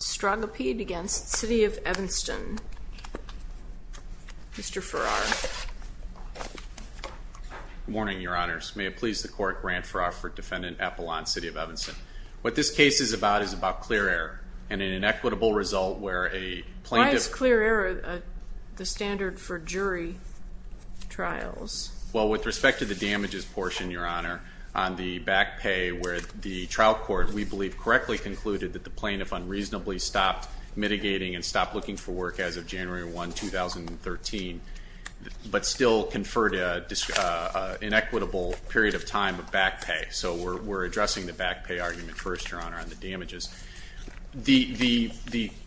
Mr. Farrar. Good morning, Your Honors. May it please the Court, Grant Farrar for Defendant Apollon, City of Evanston. What this case is about is about clear error and an inequitable result where a plaintiff- Why is clear error the standard for jury trials? Well, with respect to the damages portion, Your Honor, on the back pay where the trial court, we believe, correctly concluded that the plaintiff unreasonably stopped mitigating and stopped looking for work as of January 1, 2013, but still conferred an inequitable period of time of back pay. So we're addressing the back pay argument first, Your Honor, on the damages. The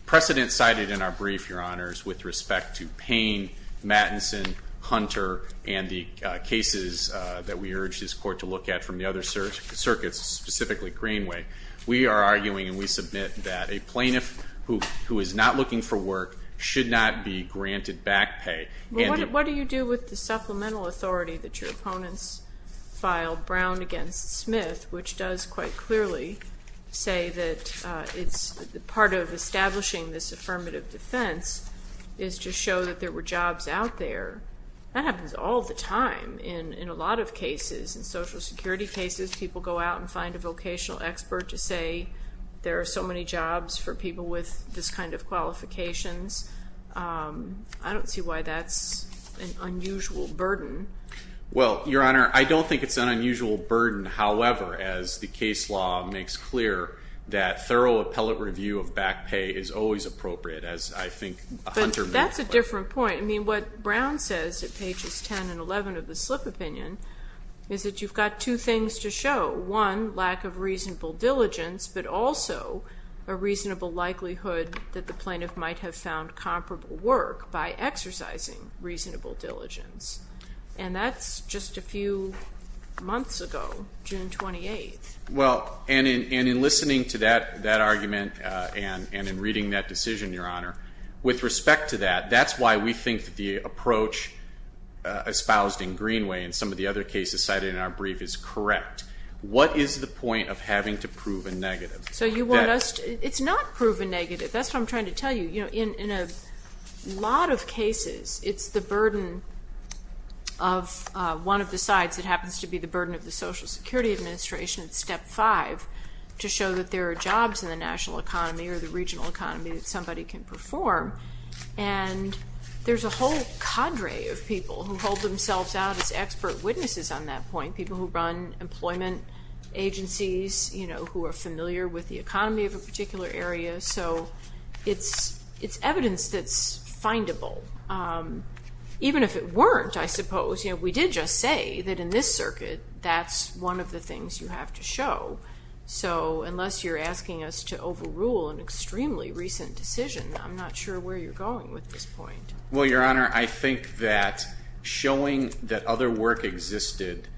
precedent cited in our brief, Your Honors, with respect to Payne, Mattinson, Hunter, and the cases that we urge this Court to look at from the other circuits, specifically Greenway, we are arguing and we submit that a plaintiff who is not looking for work should not be granted back pay. What do you do with the supplemental authority that your opponents filed, Brown v. Smith, which does quite clearly say that part of establishing this affirmative defense is to show that there were jobs out there? That happens all the time in a lot of cases. In Social Security cases, people go out and find a vocational expert to say there are so many jobs for people with this kind of qualifications. I don't see why that's an unusual burden. Well, Your Honor, I don't think it's an unusual burden. However, as the case law makes clear, that thorough appellate review of back pay is always appropriate, as I think Hunter- But that's a different point. I mean, what Brown says at pages 10 and 11 of the slip opinion is that you've got two things to show. One, lack of reasonable diligence, but also a reasonable likelihood that the plaintiff might have found comparable work by exercising reasonable diligence. And that's just a few months ago, June 28th. Well, and in listening to that argument and in reading that decision, Your Honor, with respect to that, that's why we think that the approach espoused in Greenway and some of the other cases cited in our brief is correct. What is the point of having to prove a negative? So you want us to- It's not prove a negative. That's what I'm trying to tell you. In a lot of cases, it's the burden of one of the sides that happens to be the burden of the Social Security Administration, step five, to show that there are jobs in the national economy or the regional economy that somebody can perform. And there's a whole cadre of people who hold themselves out as expert witnesses on that point, people who run employment agencies, who are familiar with the economy of a particular area. So it's evidence that's findable. Even if it weren't, I suppose, we did just say that in this circuit, that's one of the things you have to show. So unless you're asking us to overrule an extremely recent decision, I'm not sure where you're going with this point. Well, Your Honor, I think that showing that other work existed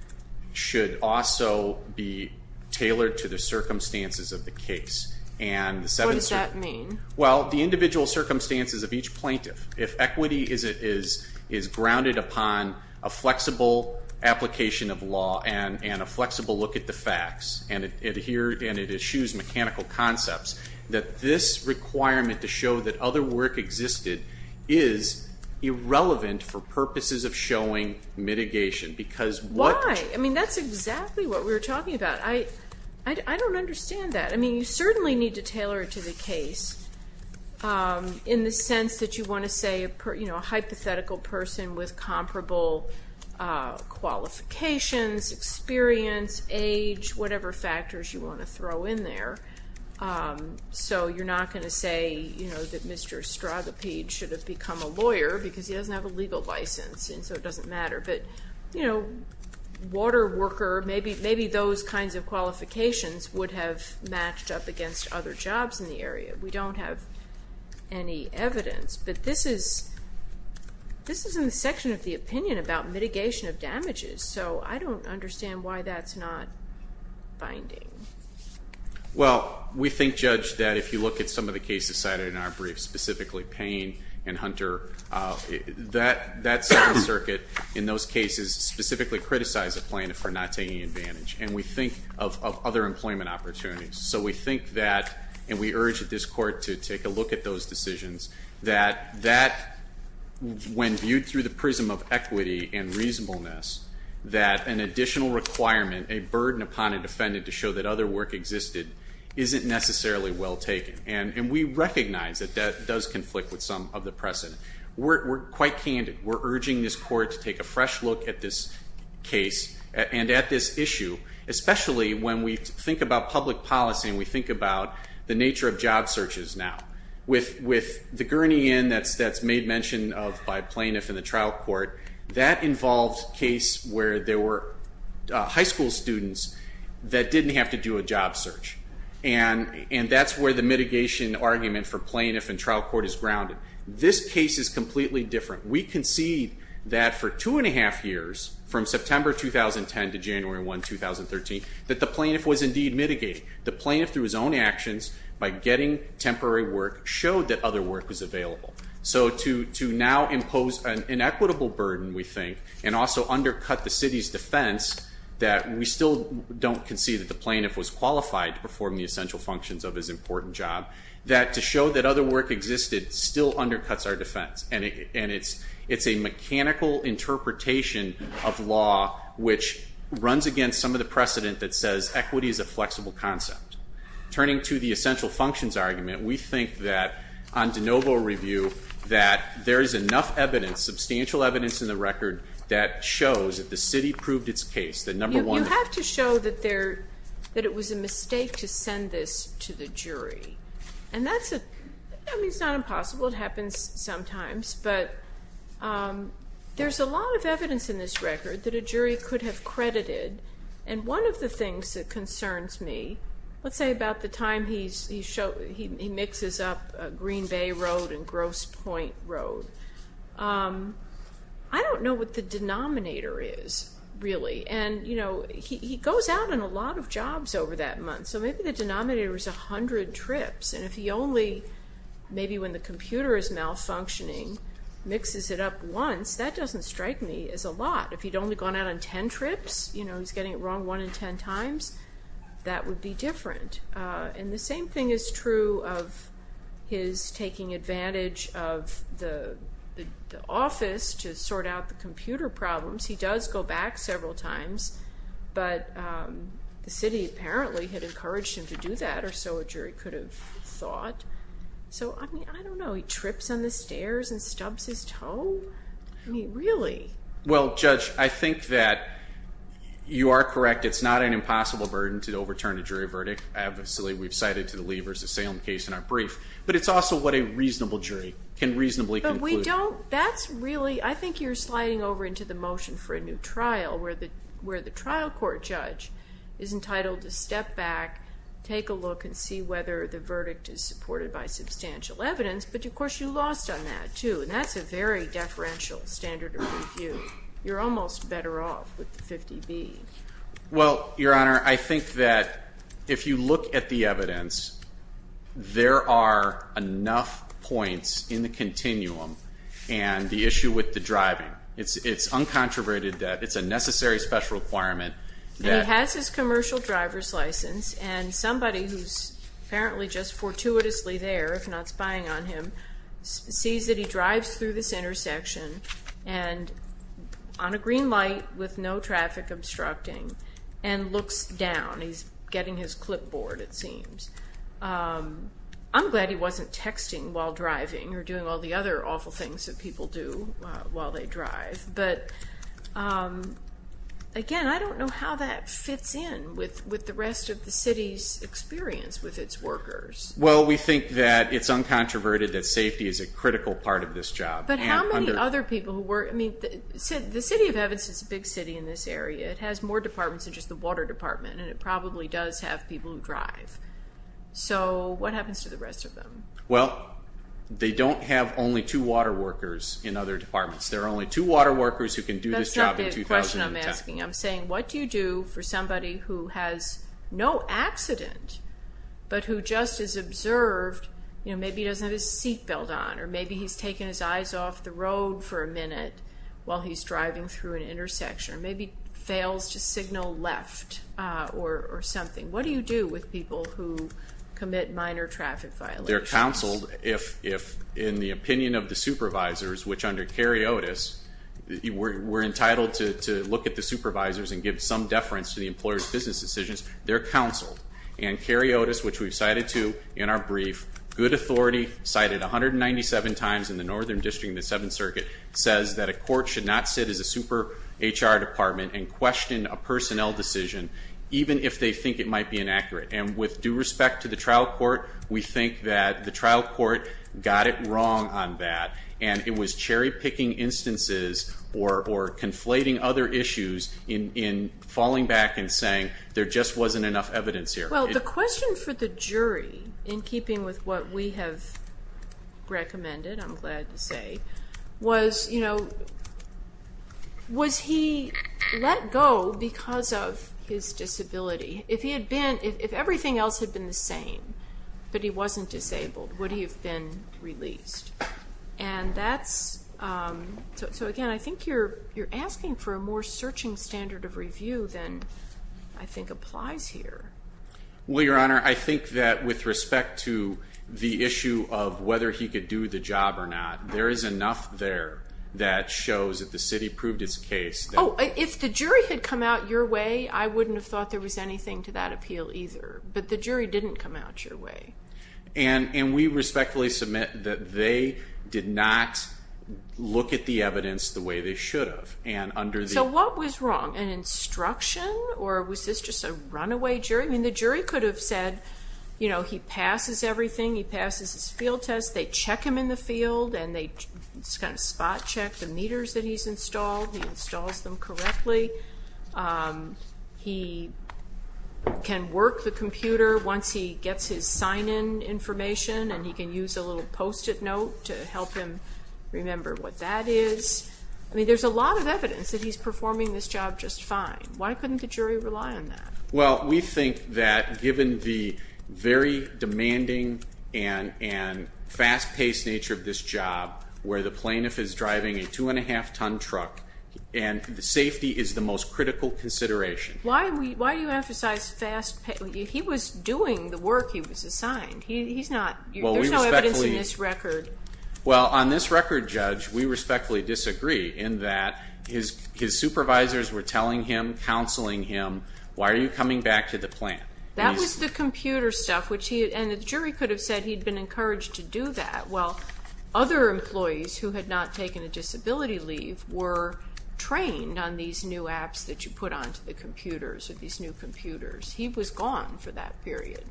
should also be tailored to the circumstances of the case. What does that mean? Well, the individual circumstances of each plaintiff. If equity is grounded upon a flexible application of law and a flexible look at the facts and it eschews mechanical concepts, that this requirement to show that other work existed is irrelevant for purposes of showing mitigation. Why? I mean, that's exactly what we were talking about. I don't understand that. I mean, you certainly need to tailor it to the case in the sense that you want to say a hypothetical person with comparable qualifications, experience, age, whatever factors you want to throw in there. So you're not going to say, you know, that Mr. Strogopede should have become a lawyer because he doesn't have a legal license and so it doesn't matter. But, you know, water worker, maybe those kinds of qualifications would have matched up against other jobs in the area. We don't have any evidence. But this is in the section of the opinion about mitigation of damages. So I don't understand why that's not binding. Well, we think, Judge, that if you look at some of the cases cited in our briefs, specifically Payne and Hunter, that second circuit in those cases specifically criticized the plaintiff for not taking advantage. And we think of other employment opportunities. So we think that, and we urge this court to take a look at those decisions, that when viewed through the prism of equity and reasonableness, that an additional requirement, a burden upon a defendant to show that other work existed isn't necessarily well taken. And we recognize that that does conflict with some of the precedent. We're quite candid. We're urging this court to take a fresh look at this case and at this issue, especially when we think about public policy and we think about the nature of job searches now. With the gurney in that's made mention of by plaintiff and the trial court, that involved case where there were high school students that didn't have to do a job search. And that's where the mitigation argument for plaintiff and trial court is grounded. This case is completely different. We concede that for two and a half years, from September 2010 to January 1, 2013, that the plaintiff was indeed mitigated. The plaintiff, through his own actions, by getting temporary work, showed that other work was available. So to now impose an inequitable burden, we think, and also undercut the city's defense that we still don't concede that the plaintiff was qualified to perform the essential functions of his important job, that to show that other work existed still undercuts our defense. And it's a mechanical interpretation of law which runs against some of the precedent that says equity is a flexible concept. Turning to the essential functions argument, we think that on de novo review that there is enough evidence, substantial evidence in the record, that shows that the city proved its case. You have to show that it was a mistake to send this to the jury. And that's not impossible. It happens sometimes. But there's a lot of evidence in this record that a jury could have credited. And one of the things that concerns me, let's say about the time he mixes up Green Bay Road and Grosse Point Road, I don't know what the denominator is, really. And he goes out on a lot of jobs over that month. So maybe the denominator is 100 trips. And if he only, maybe when the computer is malfunctioning, mixes it up once, that doesn't strike me as a lot. If he'd only gone out on 10 trips, you know, he's getting it wrong one in 10 times, that would be different. And the same thing is true of his taking advantage of the office to sort out the computer problems. He does go back several times. But the city apparently had encouraged him to do that, or so a jury could have thought. So, I mean, I don't know. He trips on the stairs and stubs his toe? I mean, really? Well, Judge, I think that you are correct. It's not an impossible burden to overturn a jury verdict. Obviously, we've cited to the levers the Salem case in our brief. But it's also what a reasonable jury can reasonably conclude. I think you're sliding over into the motion for a new trial, where the trial court judge is entitled to step back, take a look, and see whether the verdict is supported by substantial evidence. But, of course, you lost on that, too. And that's a very deferential standard of review. You're almost better off with the 50B. Well, Your Honor, I think that if you look at the evidence, there are enough points in the continuum. And the issue with the driving, it's uncontroverted that it's a necessary special requirement. And he has his commercial driver's license, and somebody who's apparently just fortuitously there, if not spying on him, sees that he drives through this intersection on a green light with no traffic obstructing, and looks down. He's getting his clipboard, it seems. I'm glad he wasn't texting while driving, or doing all the other awful things that people do while they drive. But, again, I don't know how that fits in with the rest of the city's experience with its workers. Well, we think that it's uncontroverted that safety is a critical part of this job. But how many other people who work? I mean, the City of Evans is a big city in this area. It has more departments than just the water department, and it probably does have people who drive. So what happens to the rest of them? Well, they don't have only two water workers in other departments. There are only two water workers who can do this job in 2010. I'm saying, what do you do for somebody who has no accident, but who just is observed? Maybe he doesn't have his seatbelt on, or maybe he's taken his eyes off the road for a minute while he's driving through an intersection, or maybe fails to signal left, or something. What do you do with people who commit minor traffic violations? Well, they're counseled if, in the opinion of the supervisors, which under Cary Otis, we're entitled to look at the supervisors and give some deference to the employer's business decisions. They're counseled. And Cary Otis, which we've cited to in our brief, good authority, cited 197 times in the Northern District and the Seventh Circuit, says that a court should not sit as a super HR department and question a personnel decision, even if they think it might be inaccurate. And with due respect to the trial court, we think that the trial court got it wrong on that, and it was cherry-picking instances or conflating other issues in falling back and saying, there just wasn't enough evidence here. Well, the question for the jury, in keeping with what we have recommended, I'm glad to say, was, you know, was he let go because of his disability? If everything else had been the same, but he wasn't disabled, would he have been released? And that's, so again, I think you're asking for a more searching standard of review than I think applies here. Well, Your Honor, I think that with respect to the issue of whether he could do the job or not, there is enough there that shows that the city proved its case. Oh, if the jury had come out your way, I wouldn't have thought there was anything to that appeal either. But the jury didn't come out your way. And we respectfully submit that they did not look at the evidence the way they should have. So what was wrong? An instruction? Or was this just a runaway jury? I mean, the jury could have said, you know, he passes everything. He passes his field test. They check him in the field, and they kind of spot check the meters that he's installed. He installs them correctly. He can work the computer once he gets his sign-in information, and he can use a little post-it note to help him remember what that is. I mean, there's a lot of evidence that he's performing this job just fine. Why couldn't the jury rely on that? Well, we think that given the very demanding and fast-paced nature of this job, where the plaintiff is driving a two-and-a-half-ton truck, and the safety is the most critical consideration. Why do you emphasize fast-paced? He was doing the work he was assigned. He's not. There's no evidence in this record. Well, on this record, Judge, we respectfully disagree in that his supervisors were telling him, counseling him, why are you coming back to the plant? That was the computer stuff, and the jury could have said he'd been encouraged to do that. Well, other employees who had not taken a disability leave were trained on these new apps that you put onto the computers or these new computers. He was gone for that period.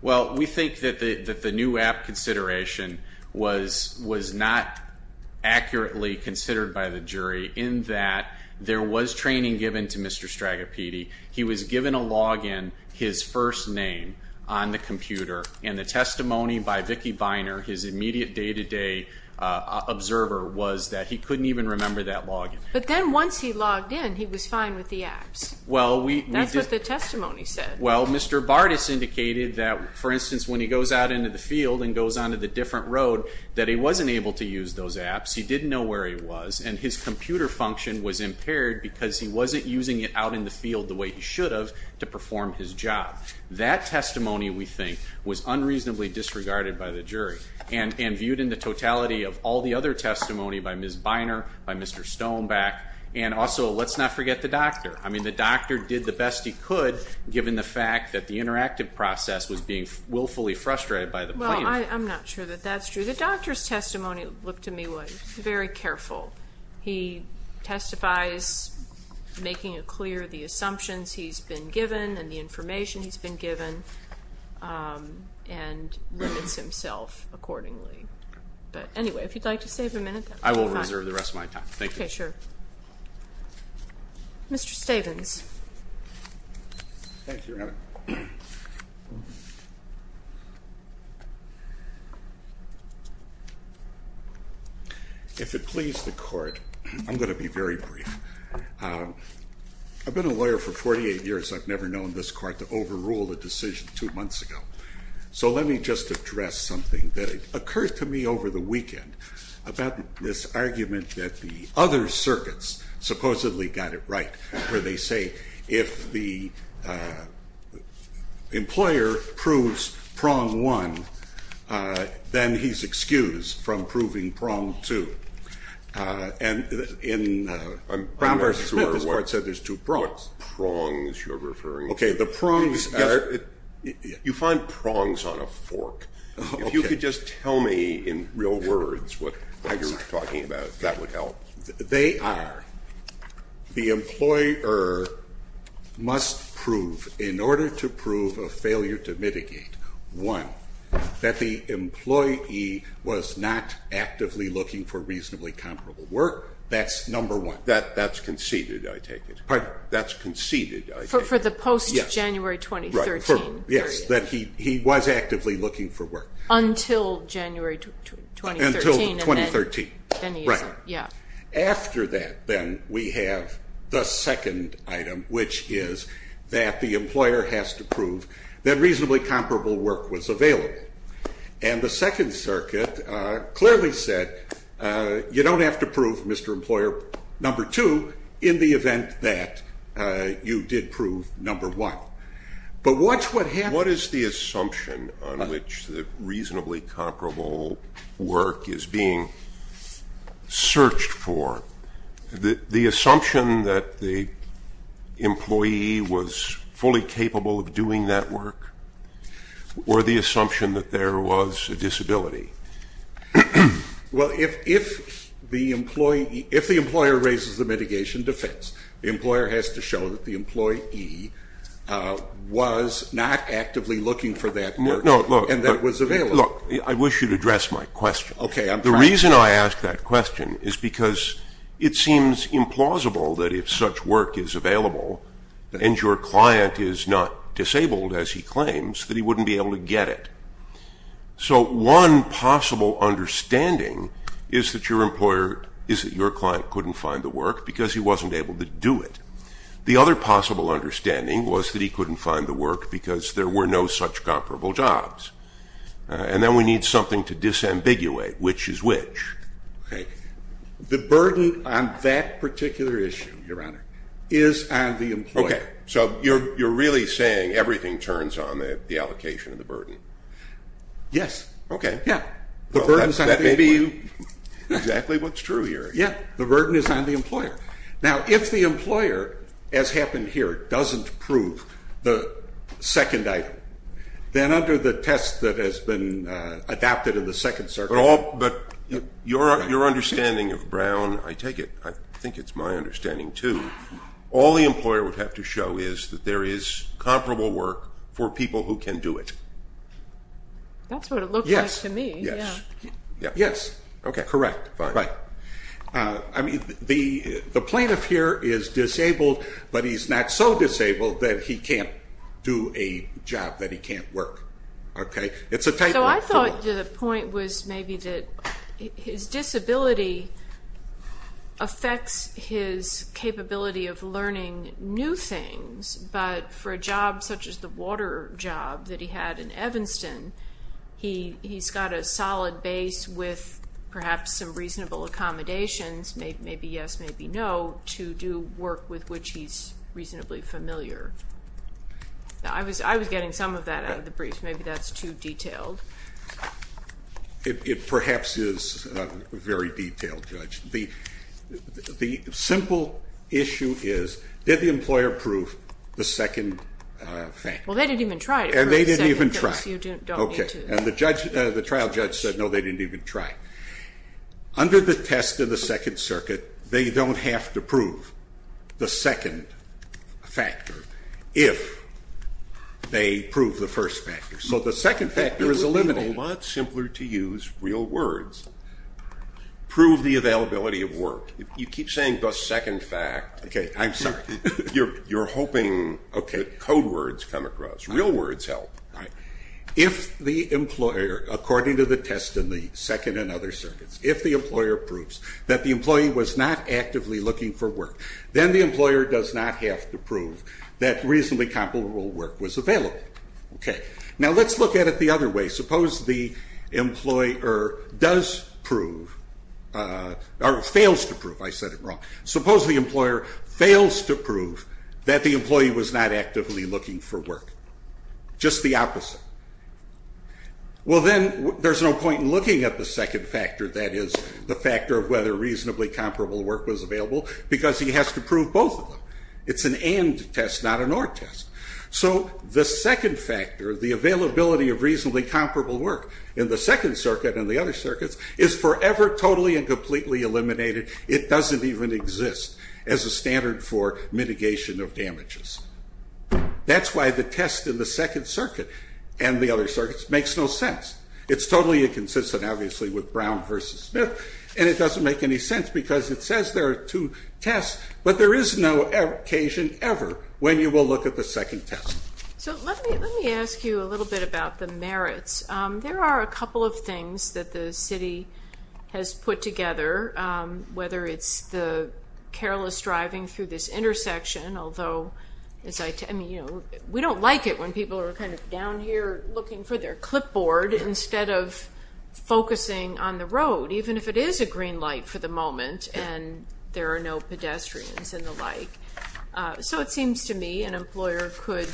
Well, we think that the new app consideration was not accurately considered by the jury in that there was training given to Mr. Stragopedi. He was given a log-in, his first name, on the computer, and the testimony by Vicki Beiner, his immediate day-to-day observer, was that he couldn't even remember that log-in. But then once he logged in, he was fine with the apps. That's what the testimony said. Well, Mr. Bartas indicated that, for instance, when he goes out into the field and goes onto the different road, that he wasn't able to use those apps. He didn't know where he was, and his computer function was impaired because he wasn't using it out in the field the way he should have to perform his job. That testimony, we think, was unreasonably disregarded by the jury and viewed in the totality of all the other testimony by Ms. Beiner, by Mr. Stoneback, and also, let's not forget the doctor. I mean, the doctor did the best he could, given the fact that the interactive process was being willfully frustrated by the plaintiff. Well, I'm not sure that that's true. The doctor's testimony looked to me very careful. He testifies, making it clear the assumptions he's been given and the information he's been given, and limits himself accordingly. But anyway, if you'd like to save a minute, that's fine. I will reserve the rest of my time. Thank you. Okay, sure. Mr. Stavins. Thank you, Your Honor. If it please the court, I'm going to be very brief. I've been a lawyer for 48 years. I've never known this court to overrule a decision two months ago. So let me just address something that occurred to me over the weekend about this argument that the other circuits supposedly got it right, where they say if the employer proves prong one, then he's excused from proving prong two. And in Brown v. Smith, this court said there's two prongs. What prongs you're referring to? Okay, the prongs are you find prongs on a fork. If you could just tell me in real words what you're talking about, that would help. They are, the employer must prove, in order to prove a failure to mitigate, one, that the employee was not actively looking for reasonably comparable work. That's number one. That's conceded, I take it. Pardon? That's conceded, I take it. For the post-January 2013 period. Yes, that he was actively looking for work. Until January 2013. Until 2013. Right. Yeah. After that, then, we have the second item, which is that the employer has to prove that reasonably comparable work was available. And the Second Circuit clearly said, you don't have to prove, Mr. Employer, number two, in the event that you did prove number one. But what's what happened? What is the assumption on which the reasonably comparable work is being searched for? The assumption that the employee was fully capable of doing that work? Or the assumption that there was a disability? Well, if the employee, if the employer raises the mitigation defense, the employer has to show that the employee was not actively looking for that work. No, look. And that was available. Look, I wish you'd address my question. Okay, I'm trying. The reason I ask that question is because it seems implausible that if such work is available and your client is not disabled, as he claims, that he wouldn't be able to get it. So one possible understanding is that your client couldn't find the work because he wasn't able to do it. The other possible understanding was that he couldn't find the work because there were no such comparable jobs. And then we need something to disambiguate which is which. Okay. The burden on that particular issue, Your Honor, is on the employer. Okay. So you're really saying everything turns on the allocation of the burden? Yes. Okay. Yeah. The burden is on the employer. That may be exactly what's true here. Yeah. The burden is on the employer. Now, if the employer, as happened here, doesn't prove the second item, then under the test that has been adapted in the Second Circuit. But your understanding of Brown, I take it, I think it's my understanding too, all the employer would have to show is that there is comparable work for people who can do it. That's what it looks like to me. Yes. Yes. Yes. Okay. Correct. Right. Right. I mean, the plaintiff here is disabled, but he's not so disabled that he can't do a job, that he can't work. Okay. So I thought the point was maybe that his disability affects his capability of learning new things, but for a job such as the water job that he had in Evanston, he's got a solid base with perhaps some reasonable accommodations, maybe yes, maybe no, to do work with which he's reasonably familiar. I was getting some of that out of the brief. Maybe that's too detailed. It perhaps is very detailed, Judge. The simple issue is, did the employer prove the second factor? Well, they didn't even try to prove the second factor. They didn't even try. Okay. And the trial judge said, no, they didn't even try. Under the test of the Second Circuit, they don't have to prove the second factor if they prove the first factor. So the second factor is eliminated. It would be a lot simpler to use real words. Prove the availability of work. You keep saying the second fact. Okay. I'm sorry. You're hoping that code words come across. Real words help. If the employer, according to the test in the Second and other circuits, if the employer proves that the employee was not actively looking for work, then the employer does not have to prove that reasonably comparable work was available. Okay. Now let's look at it the other way. Suppose the employer does prove or fails to prove, I said it wrong, suppose the employer fails to prove that the employee was not actively looking for work. Just the opposite. Well, then there's no point in looking at the second factor, that is the factor of whether reasonably comparable work was available, because he has to prove both of them. It's an and test, not an or test. So the second factor, the availability of reasonably comparable work in the Second Circuit and the other circuits is forever, totally, and completely eliminated. It doesn't even exist as a standard for mitigation of damages. That's why the test in the Second Circuit and the other circuits makes no sense. It's totally inconsistent, obviously, with Brown versus Smith, and it doesn't make any sense because it says there are two tests, but there is no occasion ever when you will look at the second test. So let me ask you a little bit about the merits. There are a couple of things that the city has put together, whether it's the careless driving through this intersection, although we don't like it when people are kind of down here looking for their clipboard instead of focusing on the road, even if it is a green light for the moment and there are no pedestrians and the like. So it seems to me an employer could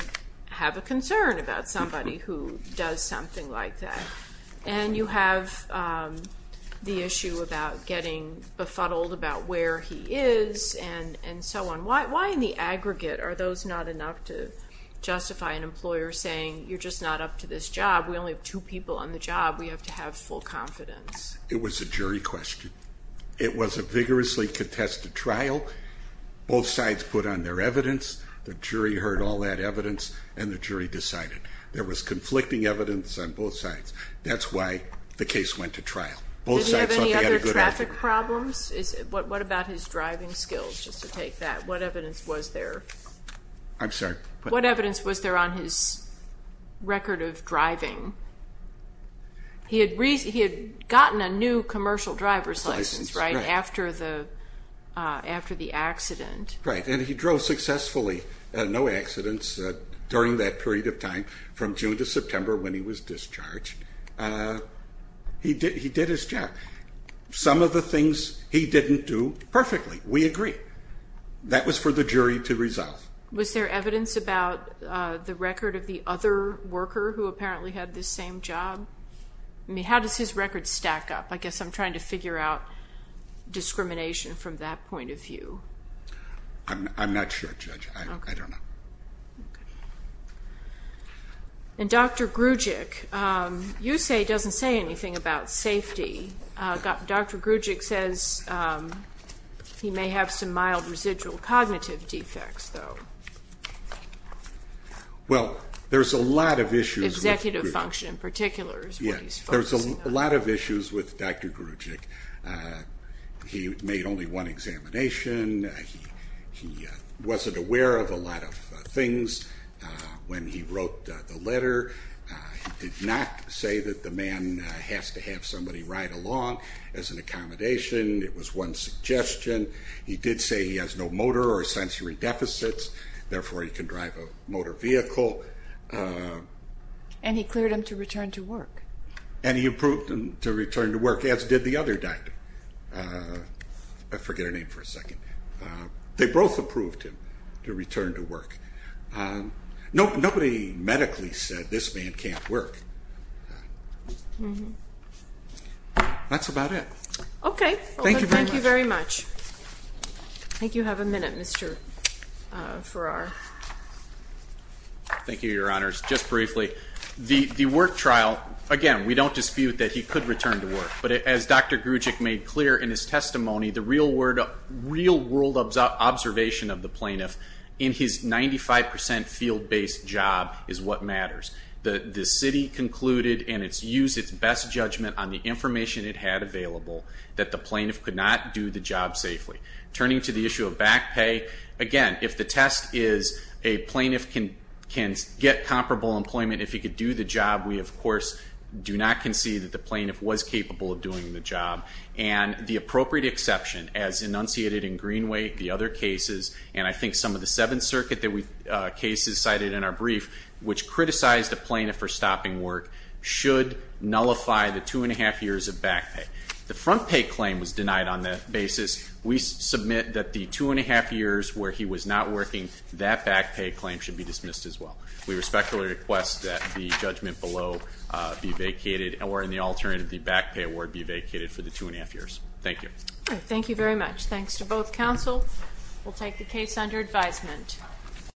have a concern about somebody who does something like that, and you have the issue about getting befuddled about where he is and so on. Why in the aggregate are those not enough to justify an employer saying you're just not up to this job? We only have two people on the job. We have to have full confidence. It was a jury question. It was a vigorously contested trial. Both sides put on their evidence. The jury heard all that evidence, and the jury decided. There was conflicting evidence on both sides. That's why the case went to trial. Did he have any other traffic problems? What about his driving skills, just to take that? What evidence was there? I'm sorry? What evidence was there on his record of driving? He had gotten a new commercial driver's license, right, after the accident. Right, and he drove successfully, no accidents, during that period of time, from June to September when he was discharged. He did his job. Some of the things he didn't do perfectly. We agree. That was for the jury to resolve. Was there evidence about the record of the other worker who apparently had this same job? I mean, how does his record stack up? I guess I'm trying to figure out discrimination from that point of view. I'm not sure, Judge. I don't know. Dr. Grujic, you say he doesn't say anything about safety. Dr. Grujic says he may have some mild residual cognitive defects, though. Well, there's a lot of issues. Executive function in particular is what he's focusing on. There's a lot of issues with Dr. Grujic. He made only one examination. He wasn't aware of a lot of things when he wrote the letter. He did not say that the man has to have somebody ride along as an accommodation. It was one suggestion. He did say he has no motor or sensory deficits, therefore he can drive a motor vehicle. And he cleared him to return to work. And he approved him to return to work, as did the other doctor. I forget her name for a second. They both approved him to return to work. Nobody medically said this man can't work. That's about it. Okay. Thank you very much. I think you have a minute, Mr. Farrar. Thank you, Your Honors. Just briefly, the work trial, again, we don't dispute that he could return to work. But as Dr. Grujic made clear in his testimony, the real-world observation of the plaintiff in his 95 percent field-based job is what matters. The city concluded, and it's used its best judgment on the information it had available, that the plaintiff could not do the job safely. Turning to the issue of back pay, again, if the test is a plaintiff can get comparable employment if he could do the job, we, of course, do not concede that the plaintiff was capable of doing the job. And the appropriate exception, as enunciated in Greenway, the other cases, and I think some of the Seventh Circuit cases cited in our brief, which criticized the plaintiff for stopping work, should nullify the two-and-a-half years of back pay. The front pay claim was denied on that basis. We submit that the two-and-a-half years where he was not working, that back pay claim should be dismissed as well. We respectfully request that the judgment below be vacated, or in the alternative, the back pay award be vacated for the two-and-a-half years. Thank you. Thank you very much. Thanks to both counsel. We'll take the case under advisement.